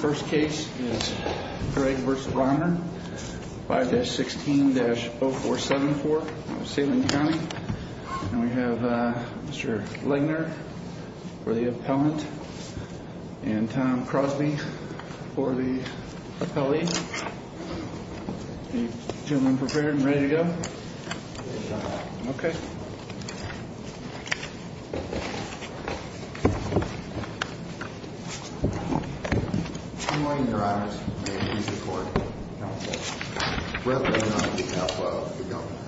First case is Gregg v. Rauner, 5-16-0474, Salem County. And we have Mr. Legner for the appellant and Tom Crosby for the appellee. Are you gentlemen prepared and ready to go? Yes, I am. Okay. Good morning, your honors. May it please the court. Counsel. Brett Legner on behalf of the governor.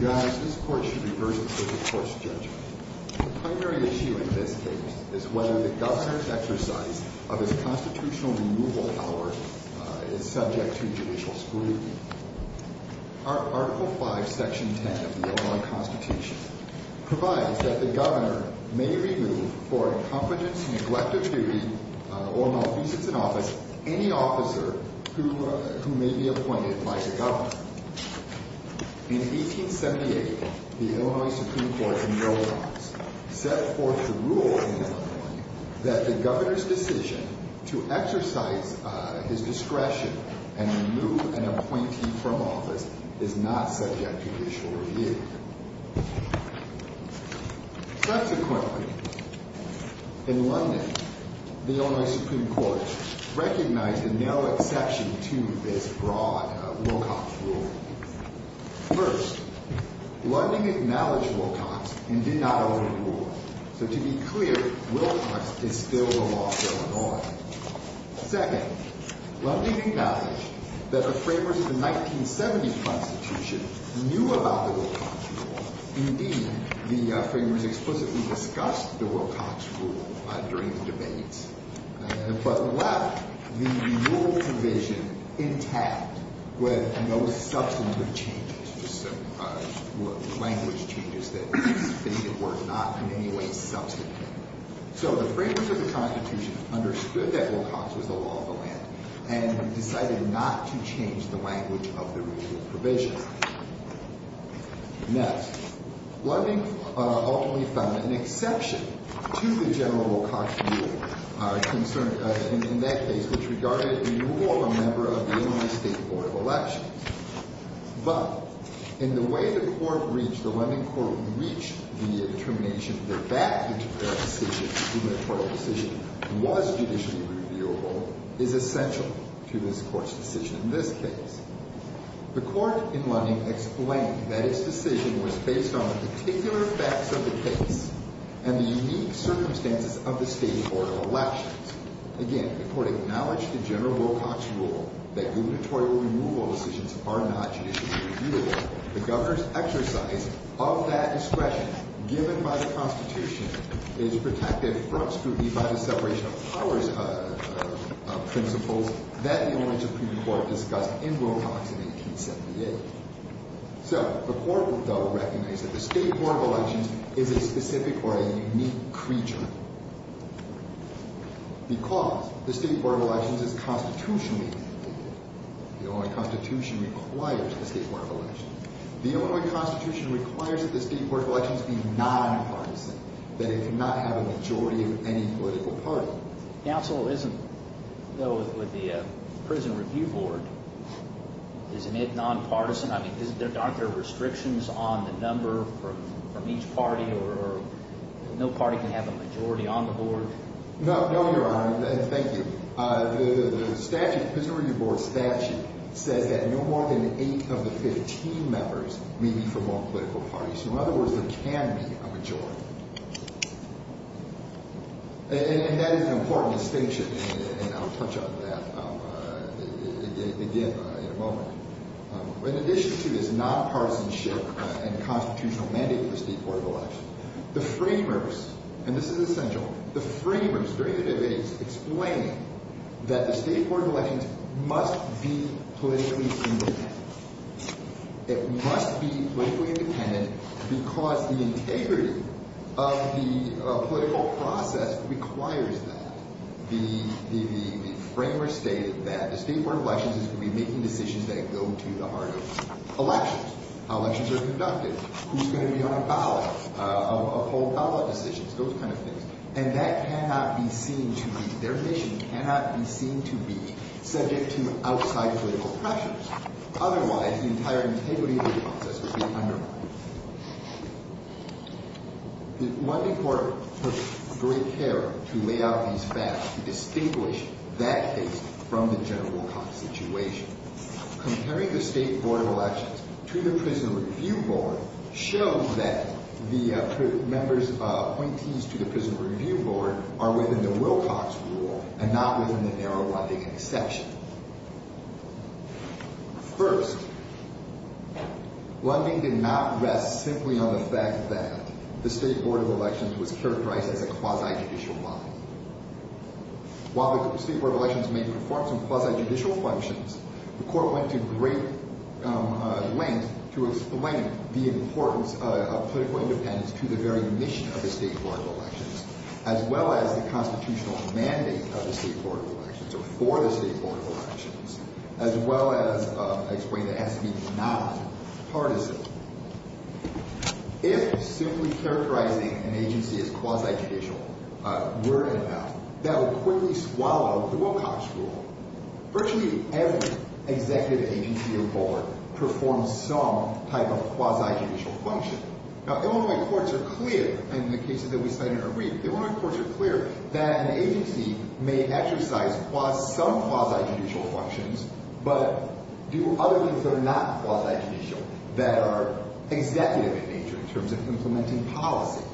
Your honors, this court should reverse the circuit court's judgment. The primary issue in this case is whether the governor's exercise of his constitutional removal power is subject to judicial scrutiny. Article 5, Section 10 of the Illinois Constitution provides that the governor may remove for incompetence, neglect of duty, or malfeasance in office any officer who may be appointed by the governor. In 1878, the Illinois Supreme Court in Wilcox set forth the rule in Illinois that the governor's decision to exercise his discretion and remove an appointee from office is not subject to judicial review. Subsequently, in London, the Illinois Supreme Court recognized a narrow exception to this broad Wilcox rule. First, London acknowledged Wilcox and did not own the rule. So to be clear, Wilcox is still a law going on. Second, London acknowledged that the framers of the 1970 Constitution knew about the Wilcox rule. Indeed, the framers explicitly discussed the Wilcox rule during the debates, but left the rule division intact with no substantive changes, language changes that stated were not in any way substantive. So the framers of the Constitution understood that Wilcox was the law of the land and decided not to change the language of the rule's provisions. Next, London ultimately found an exception to the general Wilcox rule in that case, which regarded removal of a member of the Illinois State Board of Elections. But in the way the court reached, the London court reached the determination that that decision, the gubernatorial decision, was judicially reviewable is essential to this court's decision in this case. The court in London explained that its decision was based on the particular facts of the case and the unique circumstances of the State Board of Elections. Again, the court acknowledged the general Wilcox rule that gubernatorial removal decisions are not judicially reviewable. The governor's exercise of that discretion given by the Constitution is protected from scrutiny by the separation of powers principles that the Illinois Supreme Court discussed in Wilcox in 1878. So the court, though, recognized that the State Board of Elections is a specific or a unique creature because the State Board of Elections is constitutionally independent. The Illinois Constitution requires the State Board of Elections. The Illinois Constitution requires that the State Board of Elections be nonpartisan, that it cannot have a majority of any political party. Counsel, isn't, though, with the Prison Review Board, isn't it nonpartisan? I mean, aren't there restrictions on the number from each party or no party can have a majority on the board? No, Your Honor. Thank you. The statute, the Prison Review Board statute, says that no more than eight of the 15 members may be from one political party. So in other words, there can be a majority. And that is an important distinction, and I'll touch on that again in a moment. In addition to this nonpartisanship and constitutional mandate of the State Board of Elections, the framers, and this is essential, the framers during the debates explained that the State Board of Elections must be politically independent. It must be politically independent because the integrity of the political process requires that. The framers stated that the State Board of Elections is going to be making decisions that go to the heart of elections, how elections are conducted, who's going to be on a ballot, uphold ballot decisions, those kind of things. And that cannot be seen to be, their mission cannot be seen to be subject to outside political pressures. Otherwise, the entire integrity of the process would be undermined. The London Court took great care to lay out these facts to distinguish that case from the general court situation. Comparing the State Board of Elections to the Prison Review Board showed that the members, appointees to the Prison Review Board are within the Wilcox rule and not within the narrow Lundin exception. First, Lundin did not rest simply on the fact that the State Board of Elections was characterized as a quasi-judicial body. While the State Board of Elections may perform some quasi-judicial functions, the court went to great lengths to explain the importance of political independence to the very mission of the State Board of Elections, as well as the constitutional mandate of the State Board of Elections, or for the State Board of Elections, as well as explain that it has to be non-partisan. If simply characterizing an agency as quasi-judicial were in effect, that would quickly swallow the Wilcox rule. Virtually every executive agency or board performs some type of quasi-judicial function. Now, Illinois courts are clear in the cases that we cite in our brief, Illinois courts are clear that an agency may exercise some quasi-judicial functions, but do other things that are not quasi-judicial that are executive in nature in terms of implementing policy.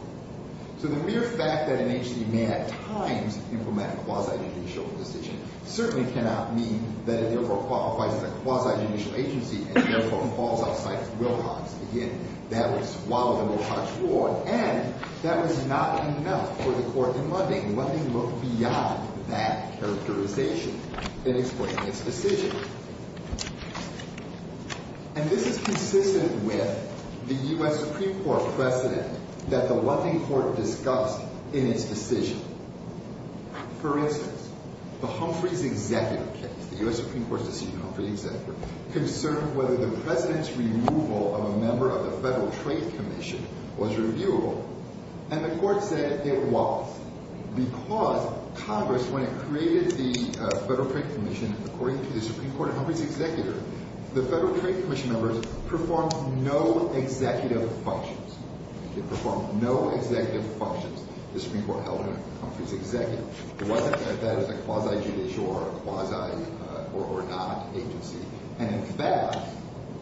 So the mere fact that an agency may at times implement a quasi-judicial decision certainly cannot mean that it therefore qualifies as a quasi-judicial agency and therefore falls outside of Wilcox. Again, that would swallow the Wilcox rule, and that was not enough for the court in Lundin. Lundin looked beyond that characterization in explaining its decision. And this is consistent with the U.S. Supreme Court precedent that the Lundin court discussed in its decision. For instance, the Humphreys executive case, the U.S. Supreme Court's decision on Humphreys executive, concerned whether the president's removal of a member of the Federal Trade Commission was reviewable. And the court said it was because Congress, when it created the Federal Trade Commission, according to the Supreme Court of Humphreys executive, the Federal Trade Commission members performed no executive functions. They performed no executive functions, the Supreme Court held in Humphreys executive. It wasn't that it was a quasi-judicial or a quasi or not agency. And in fact,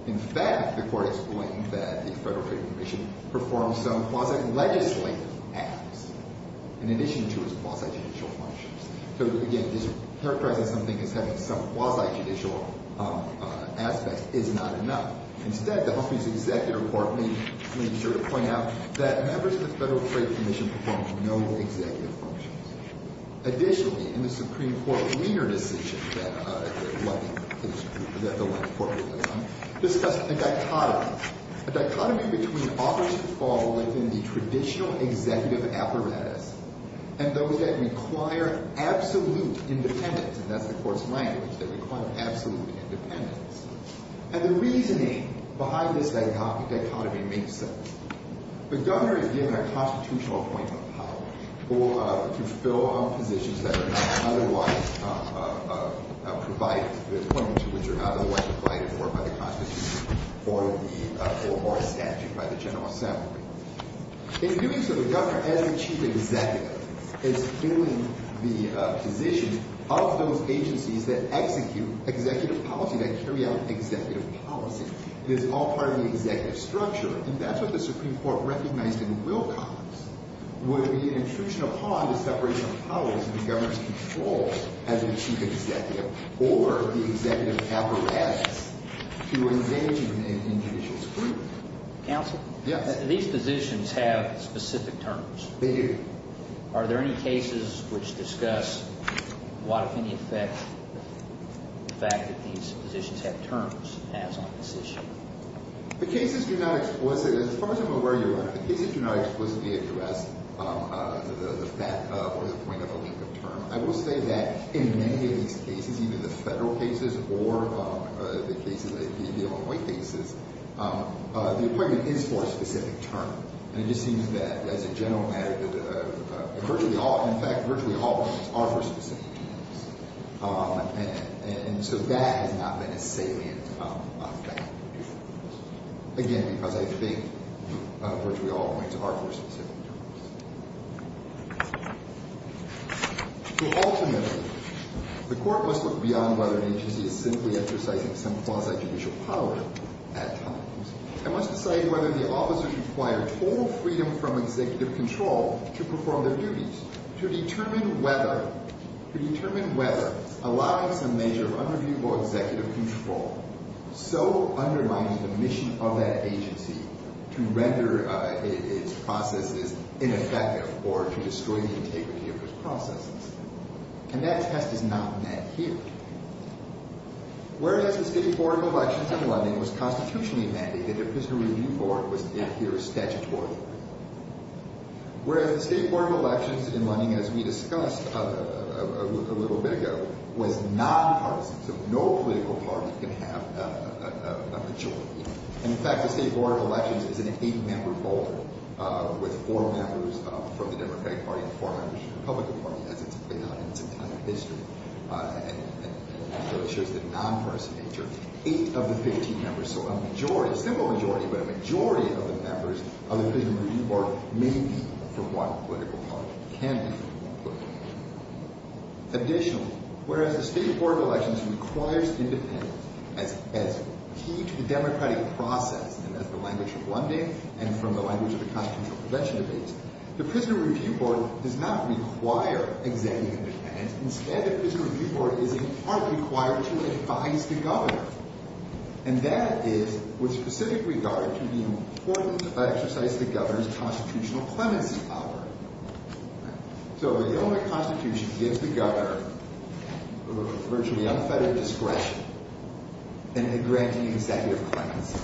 in fact, the court explained that the Federal Trade Commission performed some quasi-legislative acts in addition to its quasi-judicial functions. So, again, this characterizes something as having some quasi-judicial aspects is not enough. Instead, the Humphreys executive court made sure to point out that members of the Federal Trade Commission performed no executive functions. Additionally, in the Supreme Court leaner decision that the Lundin court was on, discussed a dichotomy, a dichotomy between authors who fall within the traditional executive apparatus and those that require absolute independence. And that's the court's language, they require absolute independence. And the reasoning behind this dichotomy makes sense. The governor is given a constitutional appointment of power to fill positions that are not otherwise provided, appointments to which are not otherwise provided for by the Constitution or a statute by the General Assembly. In doing so, the governor, as a chief executive, is filling the position of those agencies that execute executive policy, that carry out executive policy. It is all part of the executive structure. And that's what the Supreme Court recognized in Wilcox, would be an intrusion upon the separation of powers in the governor's control as a chief executive or the executive apparatus to engage in judicial scrutiny. Counsel? Yes. These positions have specific terms. They do. Are there any cases which discuss what, if any, effect the fact that these positions have terms as on this issue? The cases do not explicitly, as far as I'm aware, Your Honor, the cases do not explicitly address the fact or the point of a limited term. I will say that in many of these cases, either the federal cases or the cases that you deal in white cases, the appointment is for a specific term. And it just seems that, as a general matter, that virtually all – in fact, virtually all appointments are for specific terms. And so that has not been a salient effect. Again, because I think virtually all appointments are for specific terms. So ultimately, the court must look beyond whether an agency is simply exercising some quasi-judicial power at times and must decide whether the officers require total freedom from executive control to perform their duties. To determine whether – to determine whether allowing some measure of underviewable executive control so undermines the mission of that agency to render its processes ineffective or to destroy the integrity of its processes. And that test is not met here. Whereas the State Board of Elections in London was constitutionally mandated, there was no review for it. It was met here statutorily. Whereas the State Board of Elections in London, as we discussed a little bit ago, was nonpartisan. So no political party can have a majority. And in fact, the State Board of Elections is an eight-member board with four members from the Democratic Party and four members from the Republican Party, as it's laid out in some kind of history. And so it shows the nonpartisan nature. Eight of the 15 members, so a majority, a simple majority, but a majority of the members of the Prison Review Board may be from one political party, can be from one political party. Additionally, whereas the State Board of Elections requires independence as key to the democratic process and as the language of London and from the language of the constitutional prevention debates, the Prison Review Board does not require executive independence. Instead, the Prison Review Board is in part required to advise the governor. And that is with specific regard to the importance of exercising the governor's constitutional clemency power. So the Illinois Constitution gives the governor virtually unfettered discretion in granting executive clemency.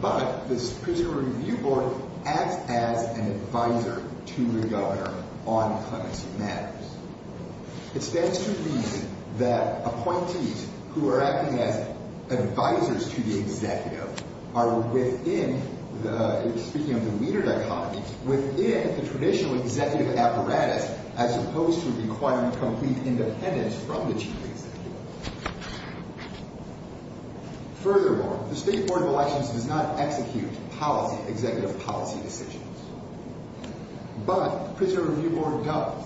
But the Prison Review Board acts as an advisor to the governor on clemency matters. It stands to reason that appointees who are acting as advisors to the executive are within the—speaking of the Wiener dichotomy—within the traditional executive apparatus, as opposed to requiring complete independence from the chief executive. Furthermore, the State Board of Elections does not execute policy—executive policy decisions. But the Prison Review Board does.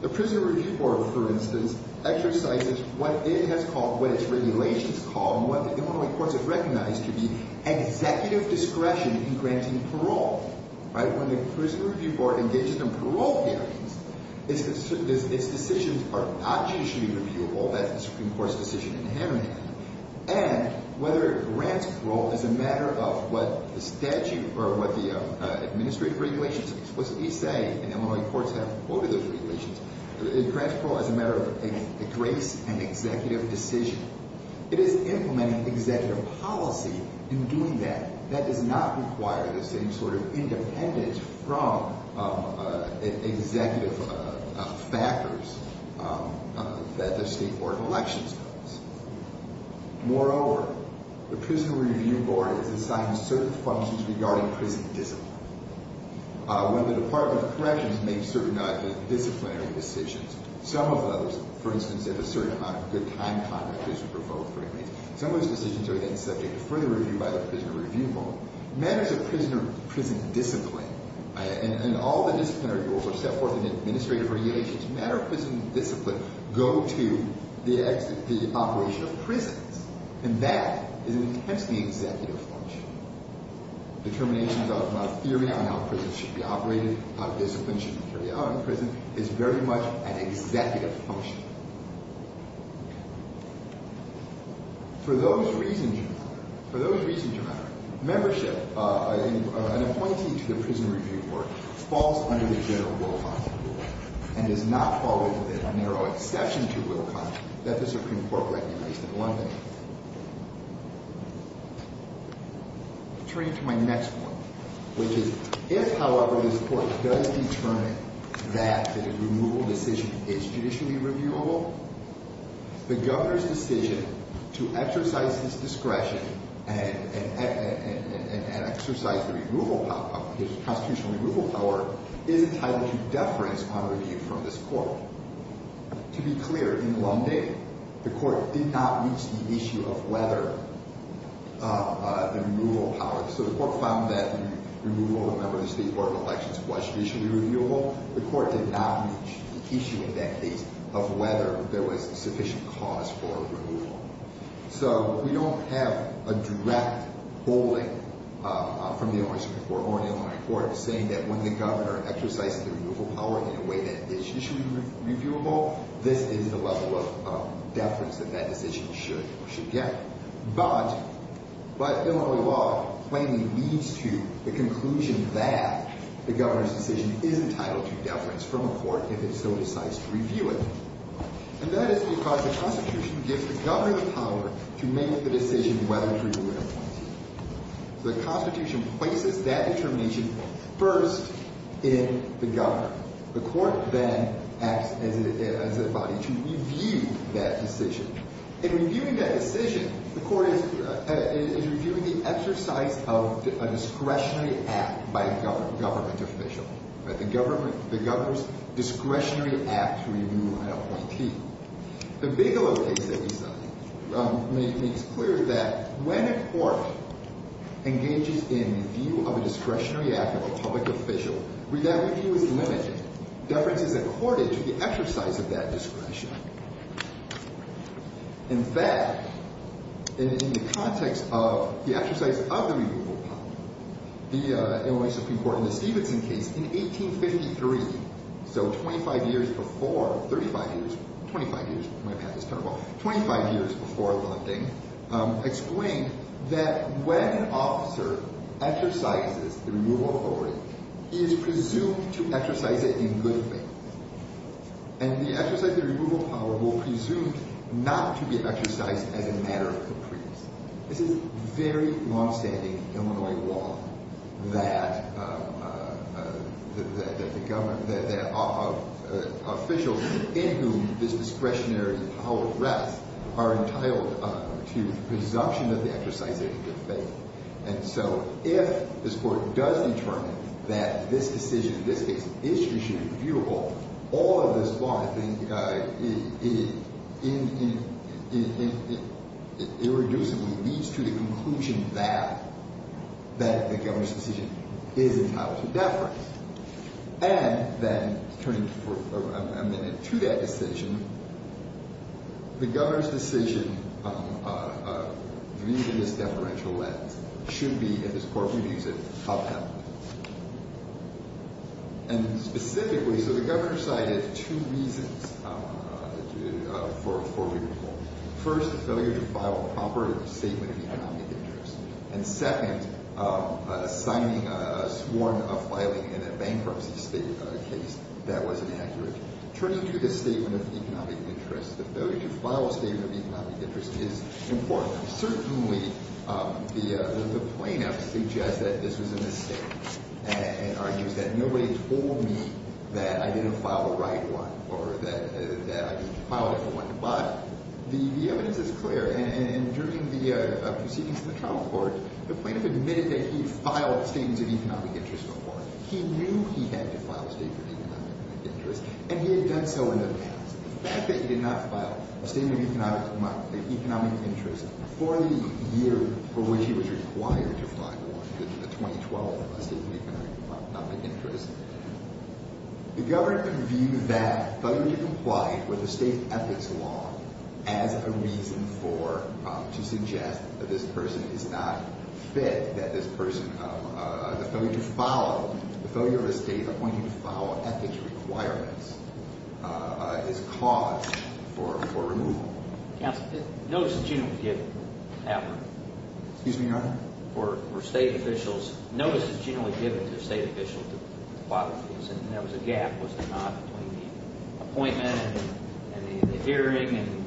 The Prison Review Board, for instance, exercises what it has called—what its regulations call and what the Illinois courts have recognized to be executive discretion in granting parole. Right? When the Prison Review Board engages in parole hearings, its decisions are not judicially reviewable. That's the Supreme Court's decision in Hammond County. And whether it grants parole is a matter of what the statute or what the administrative regulations explicitly say. And Illinois courts have quoted those regulations. It grants parole as a matter of a grace and executive decision. It is implementing executive policy in doing that. That does not require the same sort of independence from executive factors that the State Board of Elections does. Moreover, the Prison Review Board is assigned certain functions regarding prison discipline. When the Department of Corrections makes certain disciplinary decisions, some of those—for instance, if a certain amount of good time and conduct is to be provoked for inmates— some of those decisions are, again, subject to further review by the Prison Review Board. Matters of prison discipline—and all the disciplinary rules are set forth in the administrative regulations—matters of prison discipline go to the operation of prisons. And that is an intensely executive function. Determinations of theory on how prisons should be operated, how discipline should be carried out in prison is very much an executive function. For those reasons, your Honor, for those reasons, your Honor, membership—an appointee to the Prison Review Board falls under the general rule of conduct and does not fall within a narrow exception to rule of conduct that the Supreme Court recognized in London. Returning to my next point, which is, if, however, this Court does determine that the removal decision is judicially reviewable, the Governor's decision to exercise his discretion and exercise the constitutional removal power is entitled to deference on review from this Court. To be clear, in London, the Court did not reach the issue of whether the removal power—so the Court found that the removal of a member of the State Board of Elections was judicially reviewable. The Court did not reach the issue in that case of whether there was sufficient cause for removal. So we don't have a direct holding from the Illinois Supreme Court or an Illinois Court saying that when the Governor exercises the removal power in a way that is judicially reviewable, this is the level of deference that that decision should get. But Illinois law plainly leads to the conclusion that the Governor's decision is entitled to deference from a Court if it so decides to review it. And that is because the Constitution gives the Governor the power to make the decision whether to remove an appointee. The Constitution places that determination first in the Governor. The Court then acts as a body to review that decision. In reviewing that decision, the Court is reviewing the exercise of a discretionary act by a Government official. The Governor's discretionary act to remove an appointee. The Bigelow case that we studied makes clear that when a Court engages in review of a discretionary act of a public official, review is limited. Deference is accorded to the exercise of that discretion. In fact, in the context of the exercise of the removal power, the Illinois Supreme Court in the Stevenson case in 1853, so 25 years before, 35 years, 25 years, my path is terrible, 25 years before Landing, explained that when an officer exercises the removal authority, he is presumed to exercise it in good faith. And the exercise of the removal power will presume not to be exercised as a matter of caprice. This is very longstanding Illinois law that officials in whom this discretionary power rests are entitled to presumption that they exercise it in good faith. And so if this Court does determine that this decision, in this case, is discretionary and reviewable, all of this law, I think, irreducibly leads to the conclusion that the Governor's decision is entitled to deference. And then, turning for a minute to that decision, the Governor's decision, viewed in this deferential lens, should be, if this Court reviews it, upheld. And specifically, so the Governor cited two reasons for removal. First, failure to file a proper statement of economic interest. And second, signing a sworn filing in a bankruptcy case that wasn't accurate. Turning to the statement of economic interest, the failure to file a statement of economic interest is important. Certainly, the plaintiff suggests that this was a mistake and argues that nobody told me that I didn't file the right one or that I didn't file the right one. But the evidence is clear. And during the proceedings in the trial court, the plaintiff admitted that he filed a statement of economic interest before. He knew he had to file a statement of economic interest. And he had done so in advance. The fact that he did not file a statement of economic interest before the year for which he was required to file one, the 2012 statement of economic interest, the Governor could view that failure to comply with the state's ethics law as a reason to suggest that this person is not fit, that this person, the failure to follow, the failure of a state appointee to follow ethics requirements is cause for removal. Counsel, notice that you didn't give it to the governor. Excuse me, Your Honor? For state officials. Notice that you didn't give it to the state officials to file the case. And there was a gap, was there not, between the appointment and the hearing?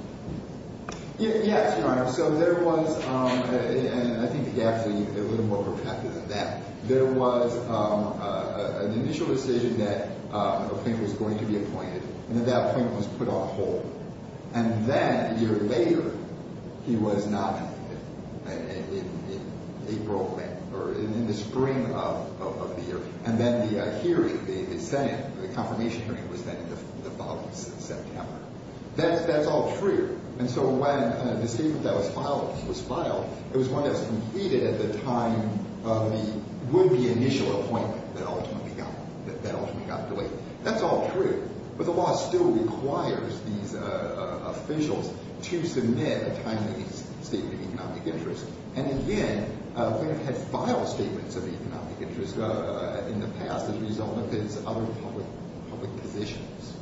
Yes, Your Honor. So there was, and I think the gap is a little more perpetual than that. There was an initial decision that a plaintiff was going to be appointed. And at that point, it was put on hold. And then a year later, he was nominated in April or in the spring of the year. And then the hearing, the Senate, the confirmation hearing was then in the fall of September. That's all true. And so when the statement that was filed, it was one that was completed at the time of the initial appointment that ultimately got delayed. That's all true. But the law still requires these officials to submit a timely statement of economic interest. And again, plaintiffs have filed statements of economic interest in the past as a result of his other public positions.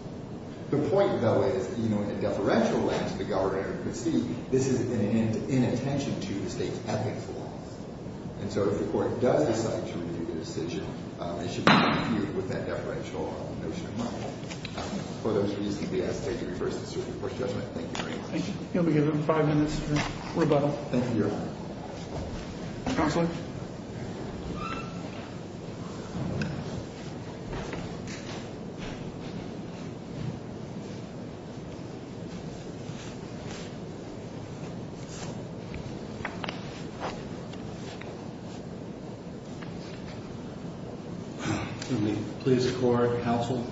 The point, though, is, you know, in a deferential lens, the governor could see this is an inattention to the state's ethics laws. And so if the court does decide to review the decision, it should be reviewed with that deferential notion in mind. For those reasons, we ask that you reverse the circuit court judgment. Thank you very much. Thank you. You'll be given five minutes for rebuttal. Thank you, Your Honor. Counselor? Let me please record, Counselor,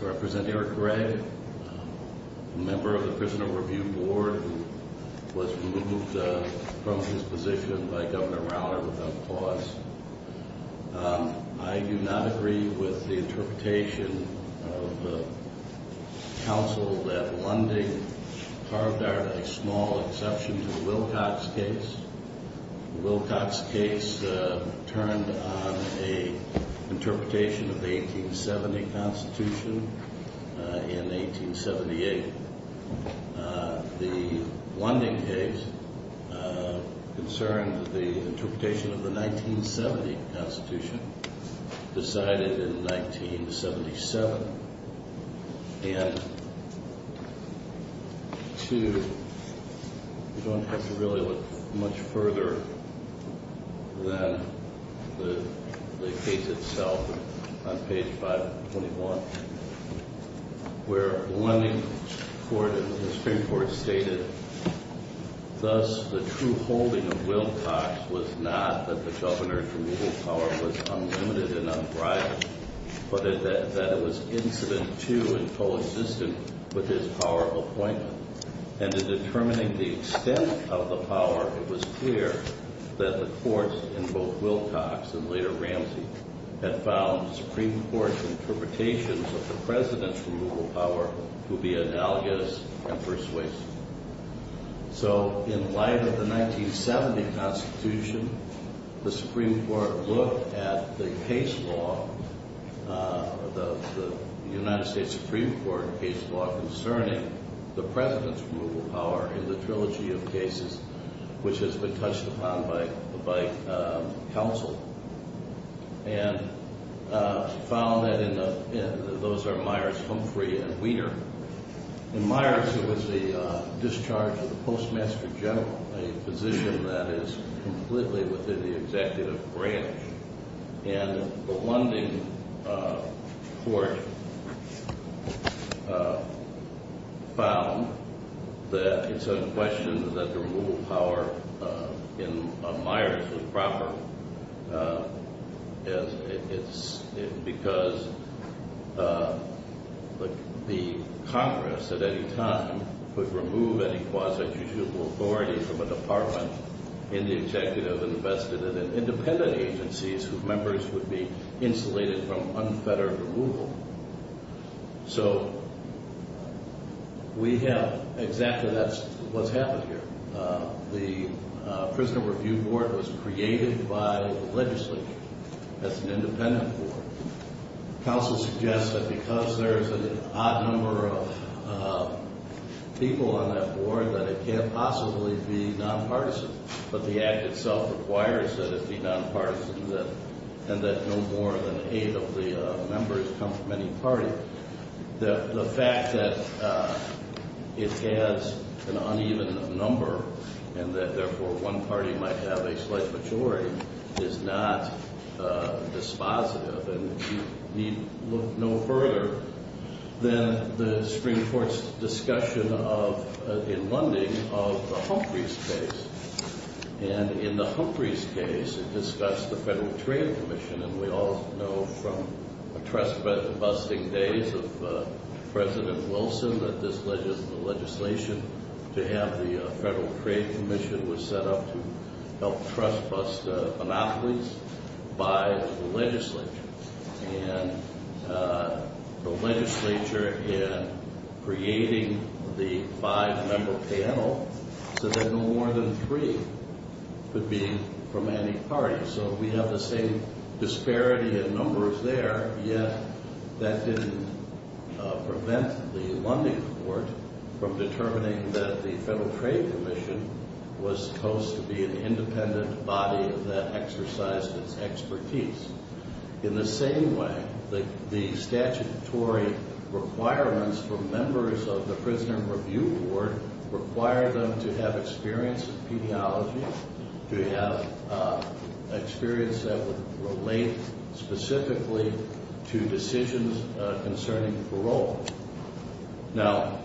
to represent Eric Gregg, a member of the Prisoner Review Board who was removed from his position by Governor Rauner without cause. I do not agree with the interpretation of counsel that Lunding carved out a small exception to the Wilcox case. The Wilcox case turned on an interpretation of the 1870 Constitution in 1878. The Lunding case concerned the interpretation of the 1970 Constitution decided in 1977. And, two, you don't have to really look much further than the case itself on page 521, where Lunding court and the Supreme Court stated, Thus, the true holding of Wilcox was not that the Governor's removal power was unlimited and unbridled, but that it was incident to and coexistent with his power of appointment. And in determining the extent of the power, it was clear that the courts in both Wilcox and later Ramsey had found the Supreme Court's interpretations of the President's removal power to be analogous and persuasive. So, in light of the 1970 Constitution, the Supreme Court looked at the case law, the United States Supreme Court case law concerning the President's removal power in the trilogy of cases, which has been touched upon by counsel, and found that those are Myers, Humphrey, and Weter. In Myers, it was the discharge of the Postmaster General, a position that is completely within the executive branch. And the Lunding court found that it's unquestioned that the removal power in Myers was proper. It's because the Congress, at any time, could remove any quasi-judgeable authority from a department in the executive and invested it in independent agencies whose members would be insulated from unfettered removal. So, we have exactly that's what's happened here. The Prisoner Review Board was created by the legislature as an independent board. Counsel suggests that because there's an odd number of people on that board, that it can't possibly be nonpartisan. But the act itself requires that it be nonpartisan and that no more than eight of the members come from any party. The fact that it has an uneven number and that, therefore, one party might have a slight majority is not dispositive. And you need look no further than the Supreme Court's discussion in Lunding of the Humphreys case. And in the Humphreys case, it discussed the Federal Trade Commission. And we all know from the trust-busting days of President Wilson that this legislation to have the Federal Trade Commission was set up to help trust-bust monopolies by the legislature. And the legislature, in creating the five-member panel, said that no more than three could be from any party. So we have the same disparity in numbers there, yet that didn't prevent the Lunding Court from determining that the Federal Trade Commission was supposed to be an independent body that exercised its expertise. In the same way, the statutory requirements for members of the Prisoner Review Board require them to have experience in pediology, to have experience that would relate specifically to decisions concerning parole. Now,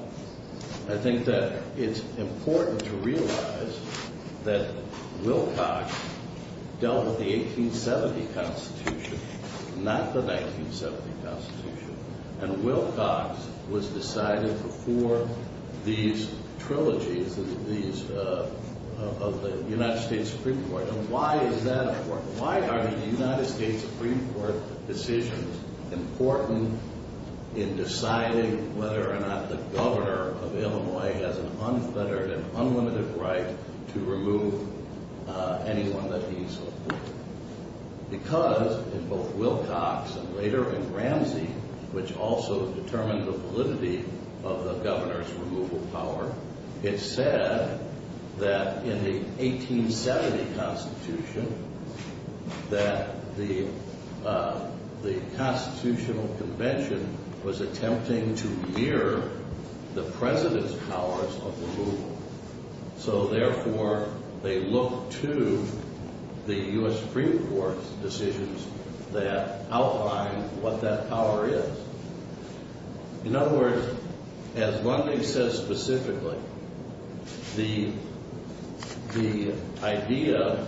I think that it's important to realize that Wilcox dealt with the 1870 Constitution, not the 1970 Constitution. And Wilcox was decided before these trilogies of the United States Supreme Court. And why is that important? Why are the United States Supreme Court decisions important in deciding whether or not the governor of Illinois has an unfettered and unlimited right to remove anyone that he supports? Because in both Wilcox and later in Ramsey, which also determined the validity of the governor's removal power, it said that in the 1870 Constitution that the Constitutional Convention was attempting to mirror the president's powers of removal. So, therefore, they look to the U.S. Supreme Court's decisions that outline what that power is. In other words, as Lunding says specifically, the idea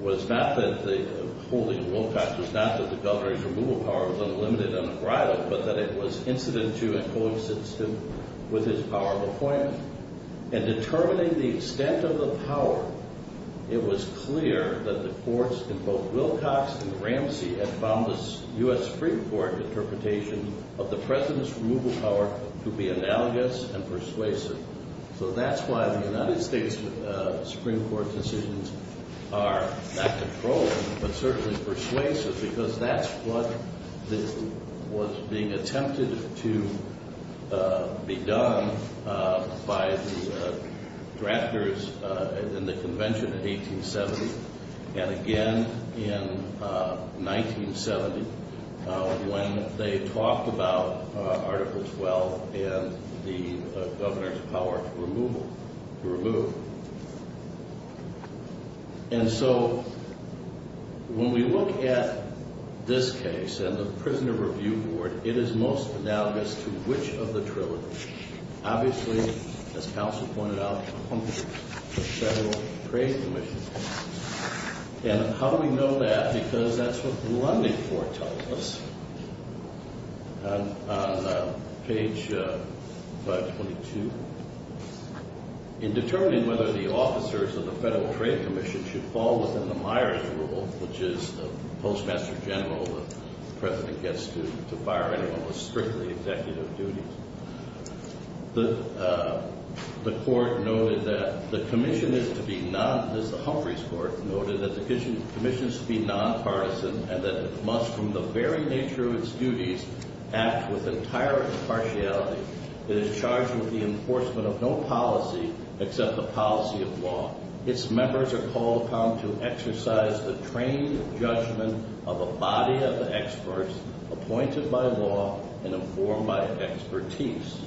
was not that the holding of Wilcox was not that the governor's removal power was unlimited and unbridled, but that it was incidental and coincidental with his power of appointment. And determining the extent of the power, it was clear that the courts in both Wilcox and Ramsey had found the U.S. Supreme Court interpretation of the president's removal power to be analogous and persuasive. So that's why the United States Supreme Court decisions are not controlling, but certainly persuasive, because that's what was being attempted to be done by the drafters in the Convention in 1870, and again in 1970 when they talked about Article 12 and the governor's power to remove. And so when we look at this case and the Prisoner Review Board, it is most analogous to which of the trilogies? Obviously, as counsel pointed out, the Federal Trade Commission. And how do we know that? Because that's what Lunding foretold us on page 522. In determining whether the officers of the Federal Trade Commission should fall within the Myers rule, which is the postmaster general the president gets to fire anyone with strictly executive duties, the court noted that the commission is to be non-partisan and that it must, from the very nature of its duties, act with entire impartiality. It is charged with the enforcement of no policy except the policy of law. Its members are called upon to exercise the trained judgment of a body of experts appointed by law and informed by expertise.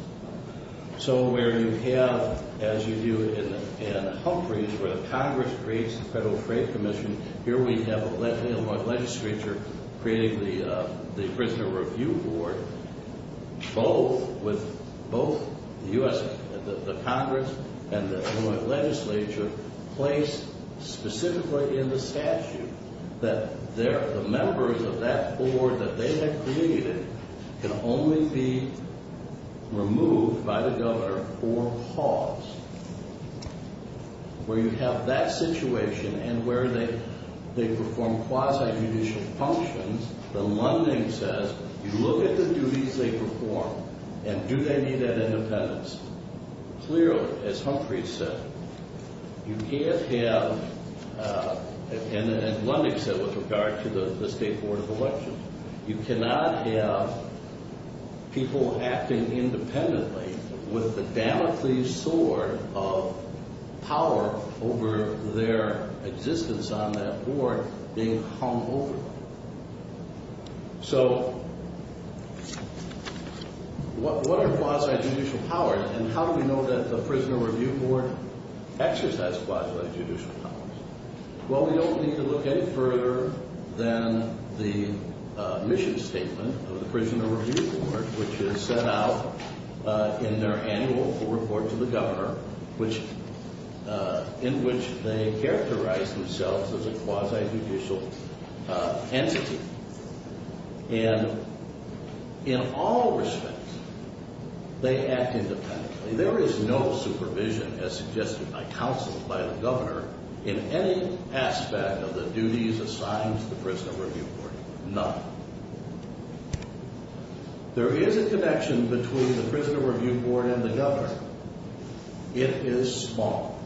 So where you have, as you do in Humphreys, where the Congress creates the Federal Trade Commission, here we have the Illinois legislature creating the Prisoner Review Board, both the Congress and the Illinois legislature place specifically in the statute that the members of that board that they have created can only be removed by the governor or paused. Where you have that situation and where they perform quasi-judicial functions, the Lunding says, you look at the duties they perform and do they need that independence? Clearly, as Humphreys said, you can't have, and Lunding said with regard to the State Board of Elections, you cannot have people acting independently with the Damocles sword of power over their existence on that board being hung over. So what are quasi-judicial powers and how do we know that the Prisoner Review Board exercises quasi-judicial powers? Well, we don't need to look any further than the mission statement of the Prisoner Review Board, which is set out in their annual report to the governor, in which they characterize themselves as a quasi-judicial entity. And in all respect, they act independently. There is no supervision as suggested by counsel by the governor in any aspect of the duties assigned to the Prisoner Review Board. None. There is a connection between the Prisoner Review Board and the governor. It is small.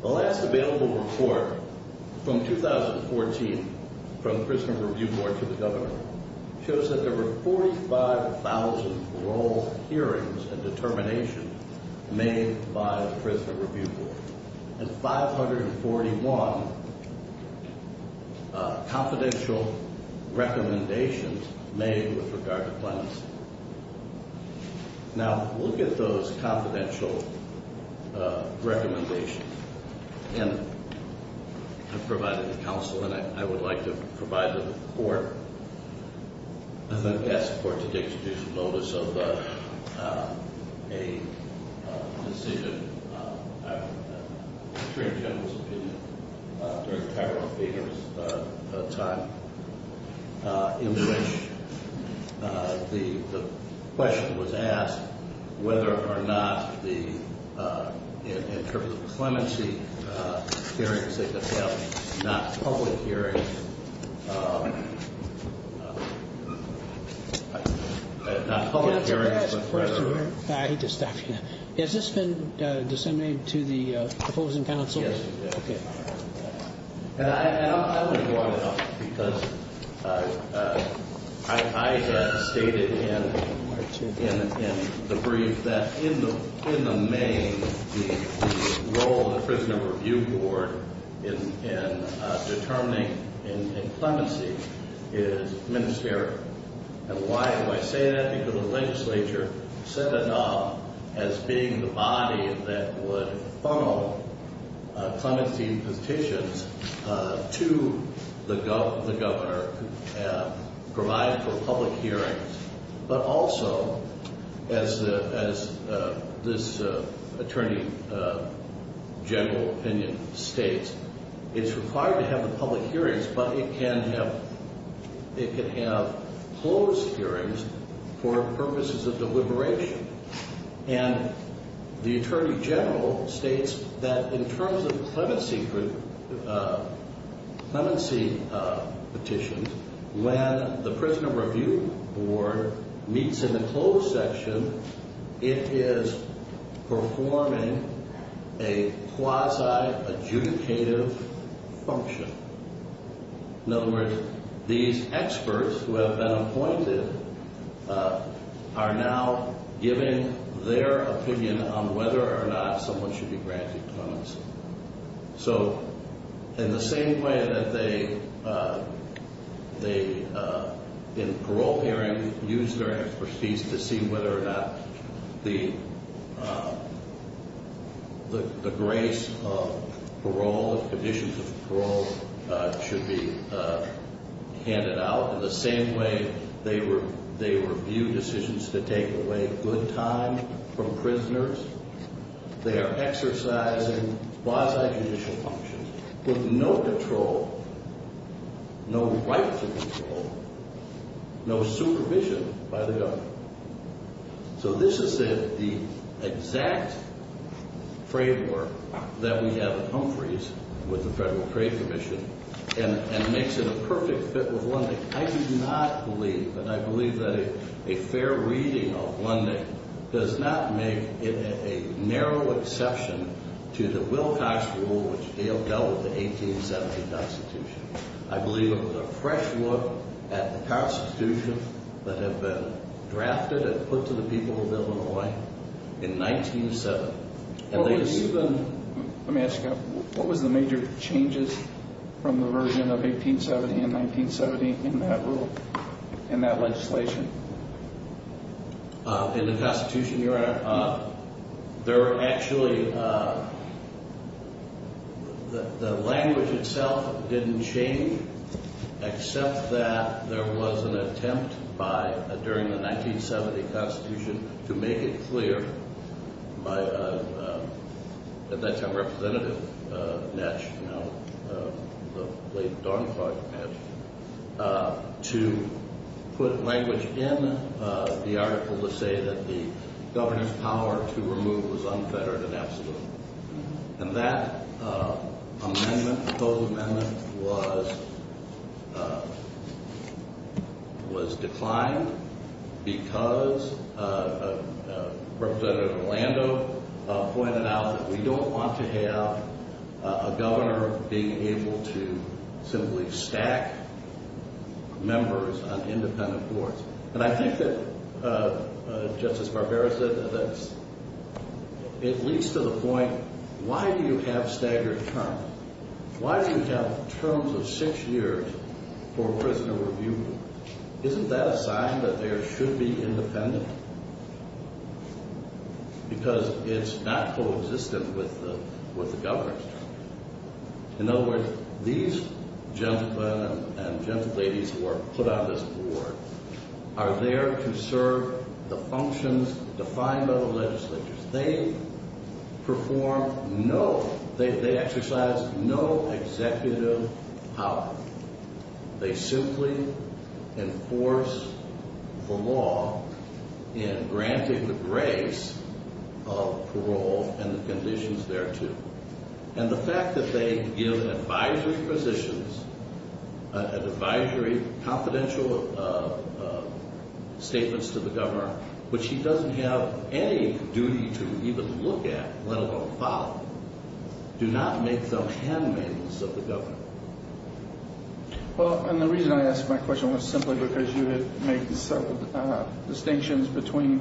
The last available report from 2014, from the Prisoner Review Board to the governor, shows that there were 45,000 parole hearings and determinations made by the Prisoner Review Board and 541 confidential recommendations made with regard to clemency. Now, look at those confidential recommendations. And I've provided the counsel and I would like to provide the report. I think that supports the Dictation Notice of a decision, the Attorney General's opinion, during Tyrone Federer's time, in which the question was asked whether or not the, in terms of clemency hearings, they could have not public hearings, not public hearings, but rather. I hate to stop you now. Has this been disseminated to the opposing counsel? Yes, it has. Okay. And I want to go on and on because I stated in the brief that in the main, the role of the Prisoner Review Board in determining in clemency is ministerial. And why do I say that? Because the legislature set it up as being the body that would funnel clemency petitions to the governor, provide for public hearings. But also, as this Attorney General opinion states, it's required to have the public hearings, but it can have closed hearings for purposes of deliberation. And the Attorney General states that in terms of clemency petitions, when the Prisoner Review Board meets in the closed section, it is performing a quasi-adjudicative function. In other words, these experts who have been appointed are now giving their opinion on whether or not someone should be granted clemency. So in the same way that they, in parole hearings, use their expertise to see whether or not the grace of parole and conditions of parole should be handed out, in the same way they review decisions to take away good time from prisoners, they are exercising quasi-judicial functions with no control, no right to control, no supervision by the governor. So this is the exact framework that we have at Humphreys with the Federal Trade Commission and makes it a perfect fit with Lundin. I do not believe, and I believe that a fair reading of Lundin does not make it a narrow exception to the Wilcox Rule, which dealt out with the 1870 Constitution. I believe it was a fresh look at the Constitution that had been drafted and put to the people of Illinois in 1970. Let me ask you, what was the major changes from the version of 1870 and 1970 in that rule, in that legislation? In the Constitution, Your Honor, there were actually, the language itself didn't change, except that there was an attempt by, during the 1970 Constitution, to make it clear by a, at that time, Representative Netsch, now the late Dawn Clark Netsch, to put language in the article to say that the governor's power to remove was unfettered and absolute. And that amendment, proposed amendment, was declined because Representative Orlando pointed out that we don't want to have a governor being able to simply stack members on independent boards. And I think that, Justice Barbera said this, it leads to the point, why do you have staggered terms? Why do you have terms of six years for prisoner review? Isn't that a sign that there should be independence? Because it's not co-existent with the governor's terms. In other words, these gentlemen and gentleladies who are put on this board are there to serve the functions defined by the legislatures. They perform no, they exercise no executive power. They simply enforce the law in granting the grace of parole and the conditions thereto. And the fact that they give advisory positions, advisory confidential statements to the governor, which he doesn't have any duty to even look at, let alone follow, do not make them handmaidens of the governor. Well, and the reason I ask my question was simply because you had made several distinctions between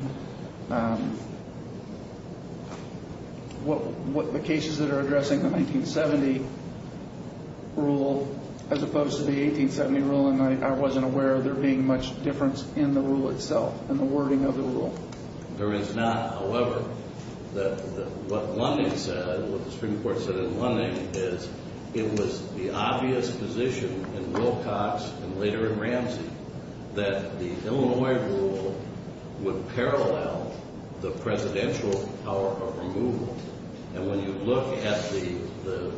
the cases that are addressing the 1970 rule as opposed to the 1870 rule, and I wasn't aware of there being much difference in the rule itself, in the wording of the rule. There is not. However, what the Supreme Court said in Lunding is it was the obvious position in Wilcox and later in Ramsey that the Illinois rule would parallel the presidential power of removal. And when you look at the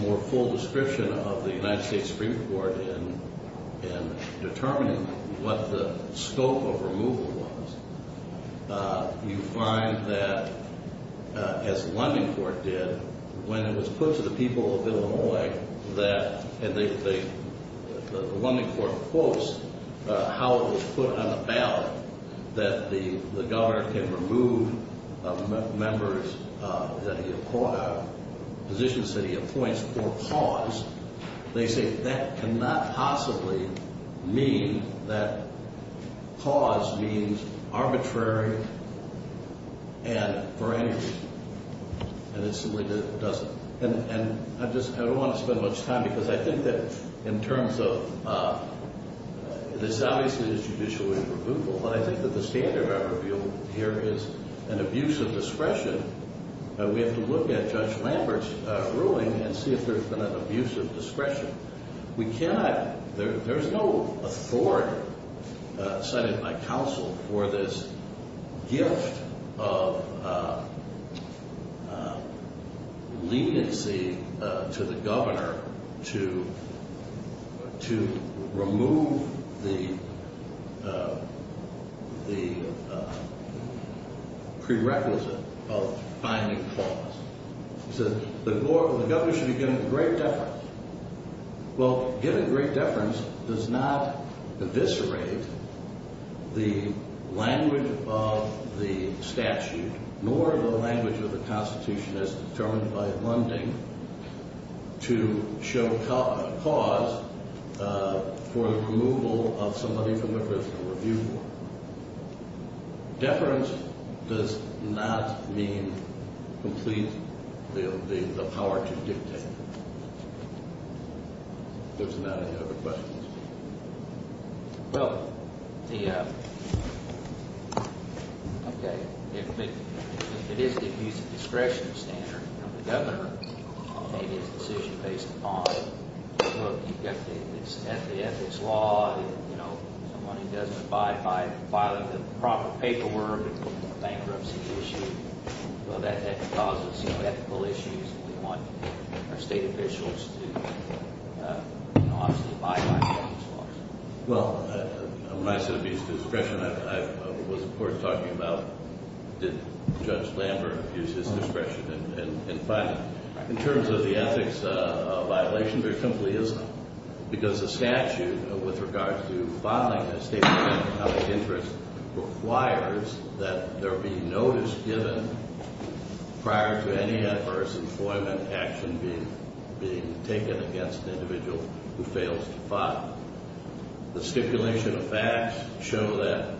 more full description of the United States Supreme Court in determining what the scope of removal was, you find that, as Lunding Court did, when it was put to the people of Illinois that, and the Lunding Court quotes how it was put on the ballot that the governor can remove members that he appoints, positions that he appoints for cause, they say that cannot possibly mean that cause means arbitrary and for any reason. And it simply doesn't. And I just, I don't want to spend much time because I think that in terms of, this is obviously a judicial removal, but I think that the standard I reveal here is an abuse of discretion. We have to look at Judge Lambert's ruling and see if there's been an abuse of discretion. We cannot, there's no authority cited in my counsel for this gift of leniency to the governor to remove the prerequisite of finding cause. He says the governor should be given great deference. Well, given great deference does not eviscerate the language of the statute nor the language of the Constitution as determined by Lunding to show cause for the removal of somebody from the personal review board. Deference does not mean complete, the power to dictate. If there's not any other questions. Well, the, okay, it is an abuse of discretion standard from the governor to make his decision based upon, well, you've got the ethics law, you know, somebody doesn't abide by filing the proper paperwork, bankruptcy issue. Well, that causes ethical issues and we want our state officials to obviously abide by the ethics laws. Well, when I said abuse of discretion, I was, of course, talking about did Judge Lambert abuse his discretion in filing? In terms of the ethics violation, there simply isn't because the statute with regard to filing a statement of interest requires that there be notice given prior to any adverse employment action being taken against the individual who fails to file. The stipulation of facts show that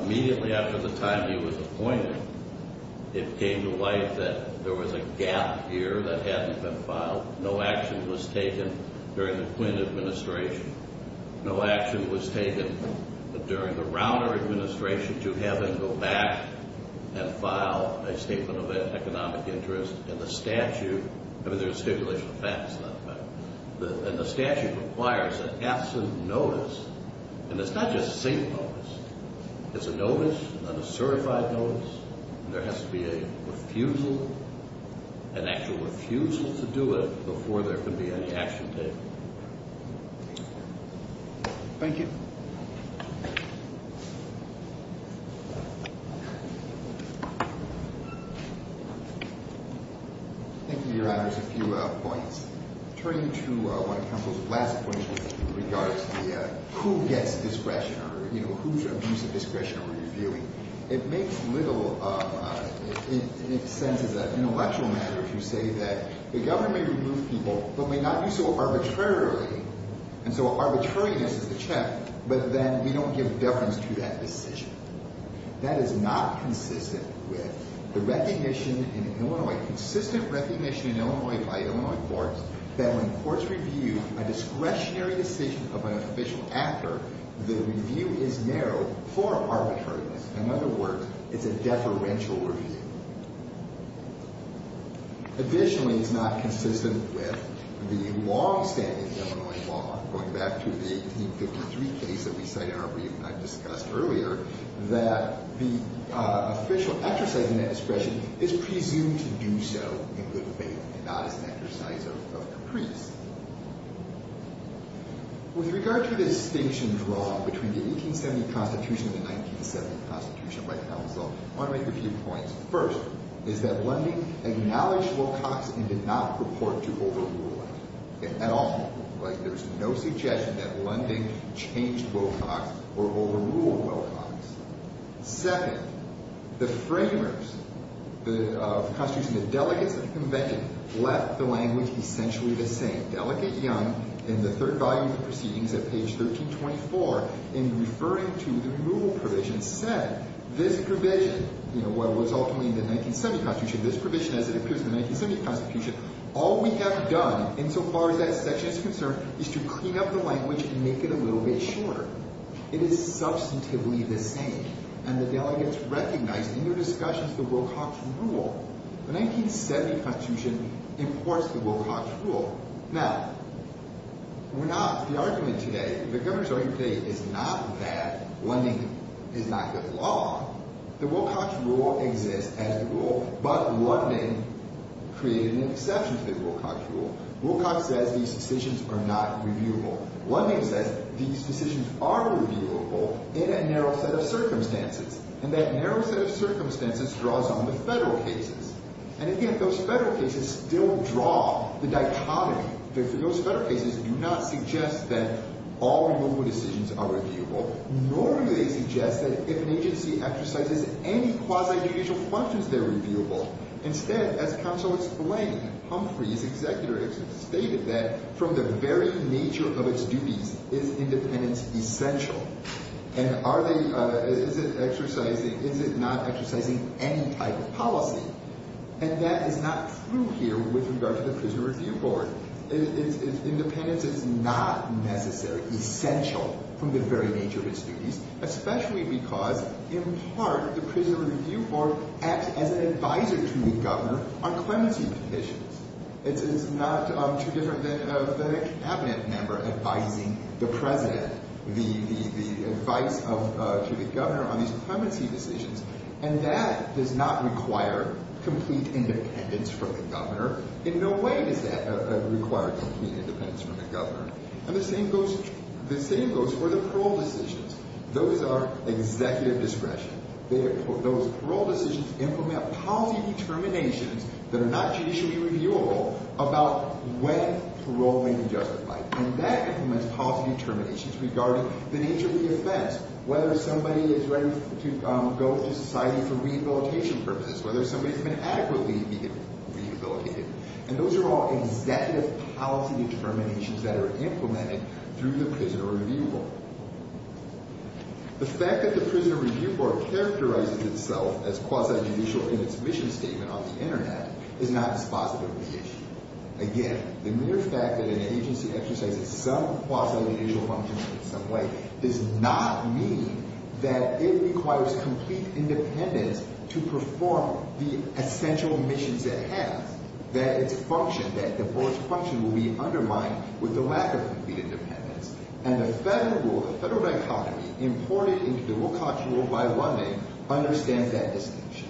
immediately after the time he was appointed, it came to light that there was a gap here that hadn't been filed. No action was taken during the Quinn administration. No action was taken during the Rauner administration to have him go back and file a statement of economic interest in the statute. I mean, there's stipulation of facts, not facts. And the statute requires an absent notice, and it's not just a single notice. It's a notice, a certified notice, and there has to be a refusal, an actual refusal to do it before there can be any action taken. Thank you. Thank you, Your Honors. A few points. Turning to one of Counsel's last points with regard to who gets discretion or whose abuse of discretion are we reviewing, it makes little sense as an intellectual matter to say that the government may remove people but may not do so arbitrarily, and so arbitrariness is the check, but then we don't give deference to that decision. That is not consistent with the recognition in Illinois, consistent recognition in Illinois by Illinois courts, that when courts review a discretionary decision of an official actor, the review is narrowed for arbitrariness. In other words, it's a deferential review. Additionally, it's not consistent with the longstanding Illinois law, going back to the 1853 case that we cite in our brief and I discussed earlier, that the official actor citing that discretion is presumed to do so in good faith and not as an exercise of caprice. With regard to the distinction drawn between the 1870 Constitution and the 1970 Constitution by Counsel, I want to make a few points. First is that Lundy acknowledged Wilcox and did not purport to overrule it at all. There's no suggestion that Lundy changed Wilcox or overruled Wilcox. Second, the framers of the Constitution, the delegates of the Convention, left the language essentially the same. Delegate Young, in the third volume of proceedings at page 1324, in referring to the removal provision, said, this provision, what was ultimately in the 1970 Constitution, this provision as it appears in the 1970 Constitution, all we have done insofar as that section is concerned is to clean up the language and make it a little bit shorter. It is substantively the same. And the delegates recognized in their discussions the Wilcox rule. The 1970 Constitution imports the Wilcox rule. Now, we're not, the argument today, the governor's argument today is not that Lundy is not good law. The Wilcox rule exists as the rule, but Lundy created an exception to the Wilcox rule. Wilcox says these decisions are not reviewable. Lundy says these decisions are reviewable in a narrow set of circumstances. And that narrow set of circumstances draws on the federal cases. And again, those federal cases still draw the dichotomy. Those federal cases do not suggest that all removal decisions are reviewable. Nor do they suggest that if an agency exercises any quasi-judicial functions, they're reviewable. Instead, as counsel explained, Humphrey, his executor, stated that from the very nature of its duties, is independence essential? And are they, is it exercising, is it not exercising any type of policy? And that is not true here with regard to the Prison Review Board. Independence is not necessarily essential from the very nature of its duties, especially because, in part, the Prison Review Board acts as an advisor to the governor on clemency petitions. It's not too different than a cabinet member advising the president, the advice to the governor on these clemency decisions. And that does not require complete independence from the governor. In no way does that require complete independence from the governor. And the same goes for the parole decisions. Those are executive discretion. Those parole decisions implement policy determinations that are not judicially reviewable about when parole may be justified. And that implements policy determinations regarding the nature of the offense, whether somebody is ready to go to society for rehabilitation purposes, whether somebody's been adequately rehabilitated. And those are all executive policy determinations that are implemented through the Prison Review Board. The fact that the Prison Review Board characterizes itself as quasi-judicial in its mission statement on the Internet is not as quasi-judicial. Again, the mere fact that an agency exercises some quasi-judicial functions in some way does not mean that it requires complete independence to perform the essential missions it has, that its function, that the Board's function, will be undermined with the lack of complete independence. And the federal rule, the federal dichotomy, imported into the rule of caution rule by Lummay, understands that distinction.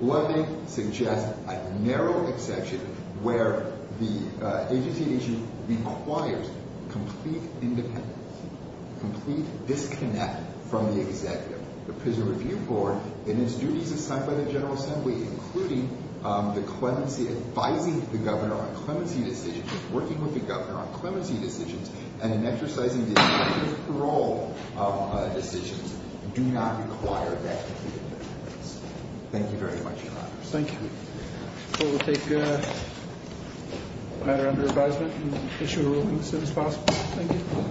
Lummay suggests a narrow exception where the agency at issue requires complete independence, complete disconnect from the executive. The Prison Review Board, in its duties assigned by the General Assembly, including advising the governor on clemency decisions, working with the governor on clemency decisions, and in exercising the executive parole decisions, do not require that complete independence. Thank you very much, Your Honor. Thank you. We'll take a matter under advisement and issue a ruling as soon as possible. Thank you.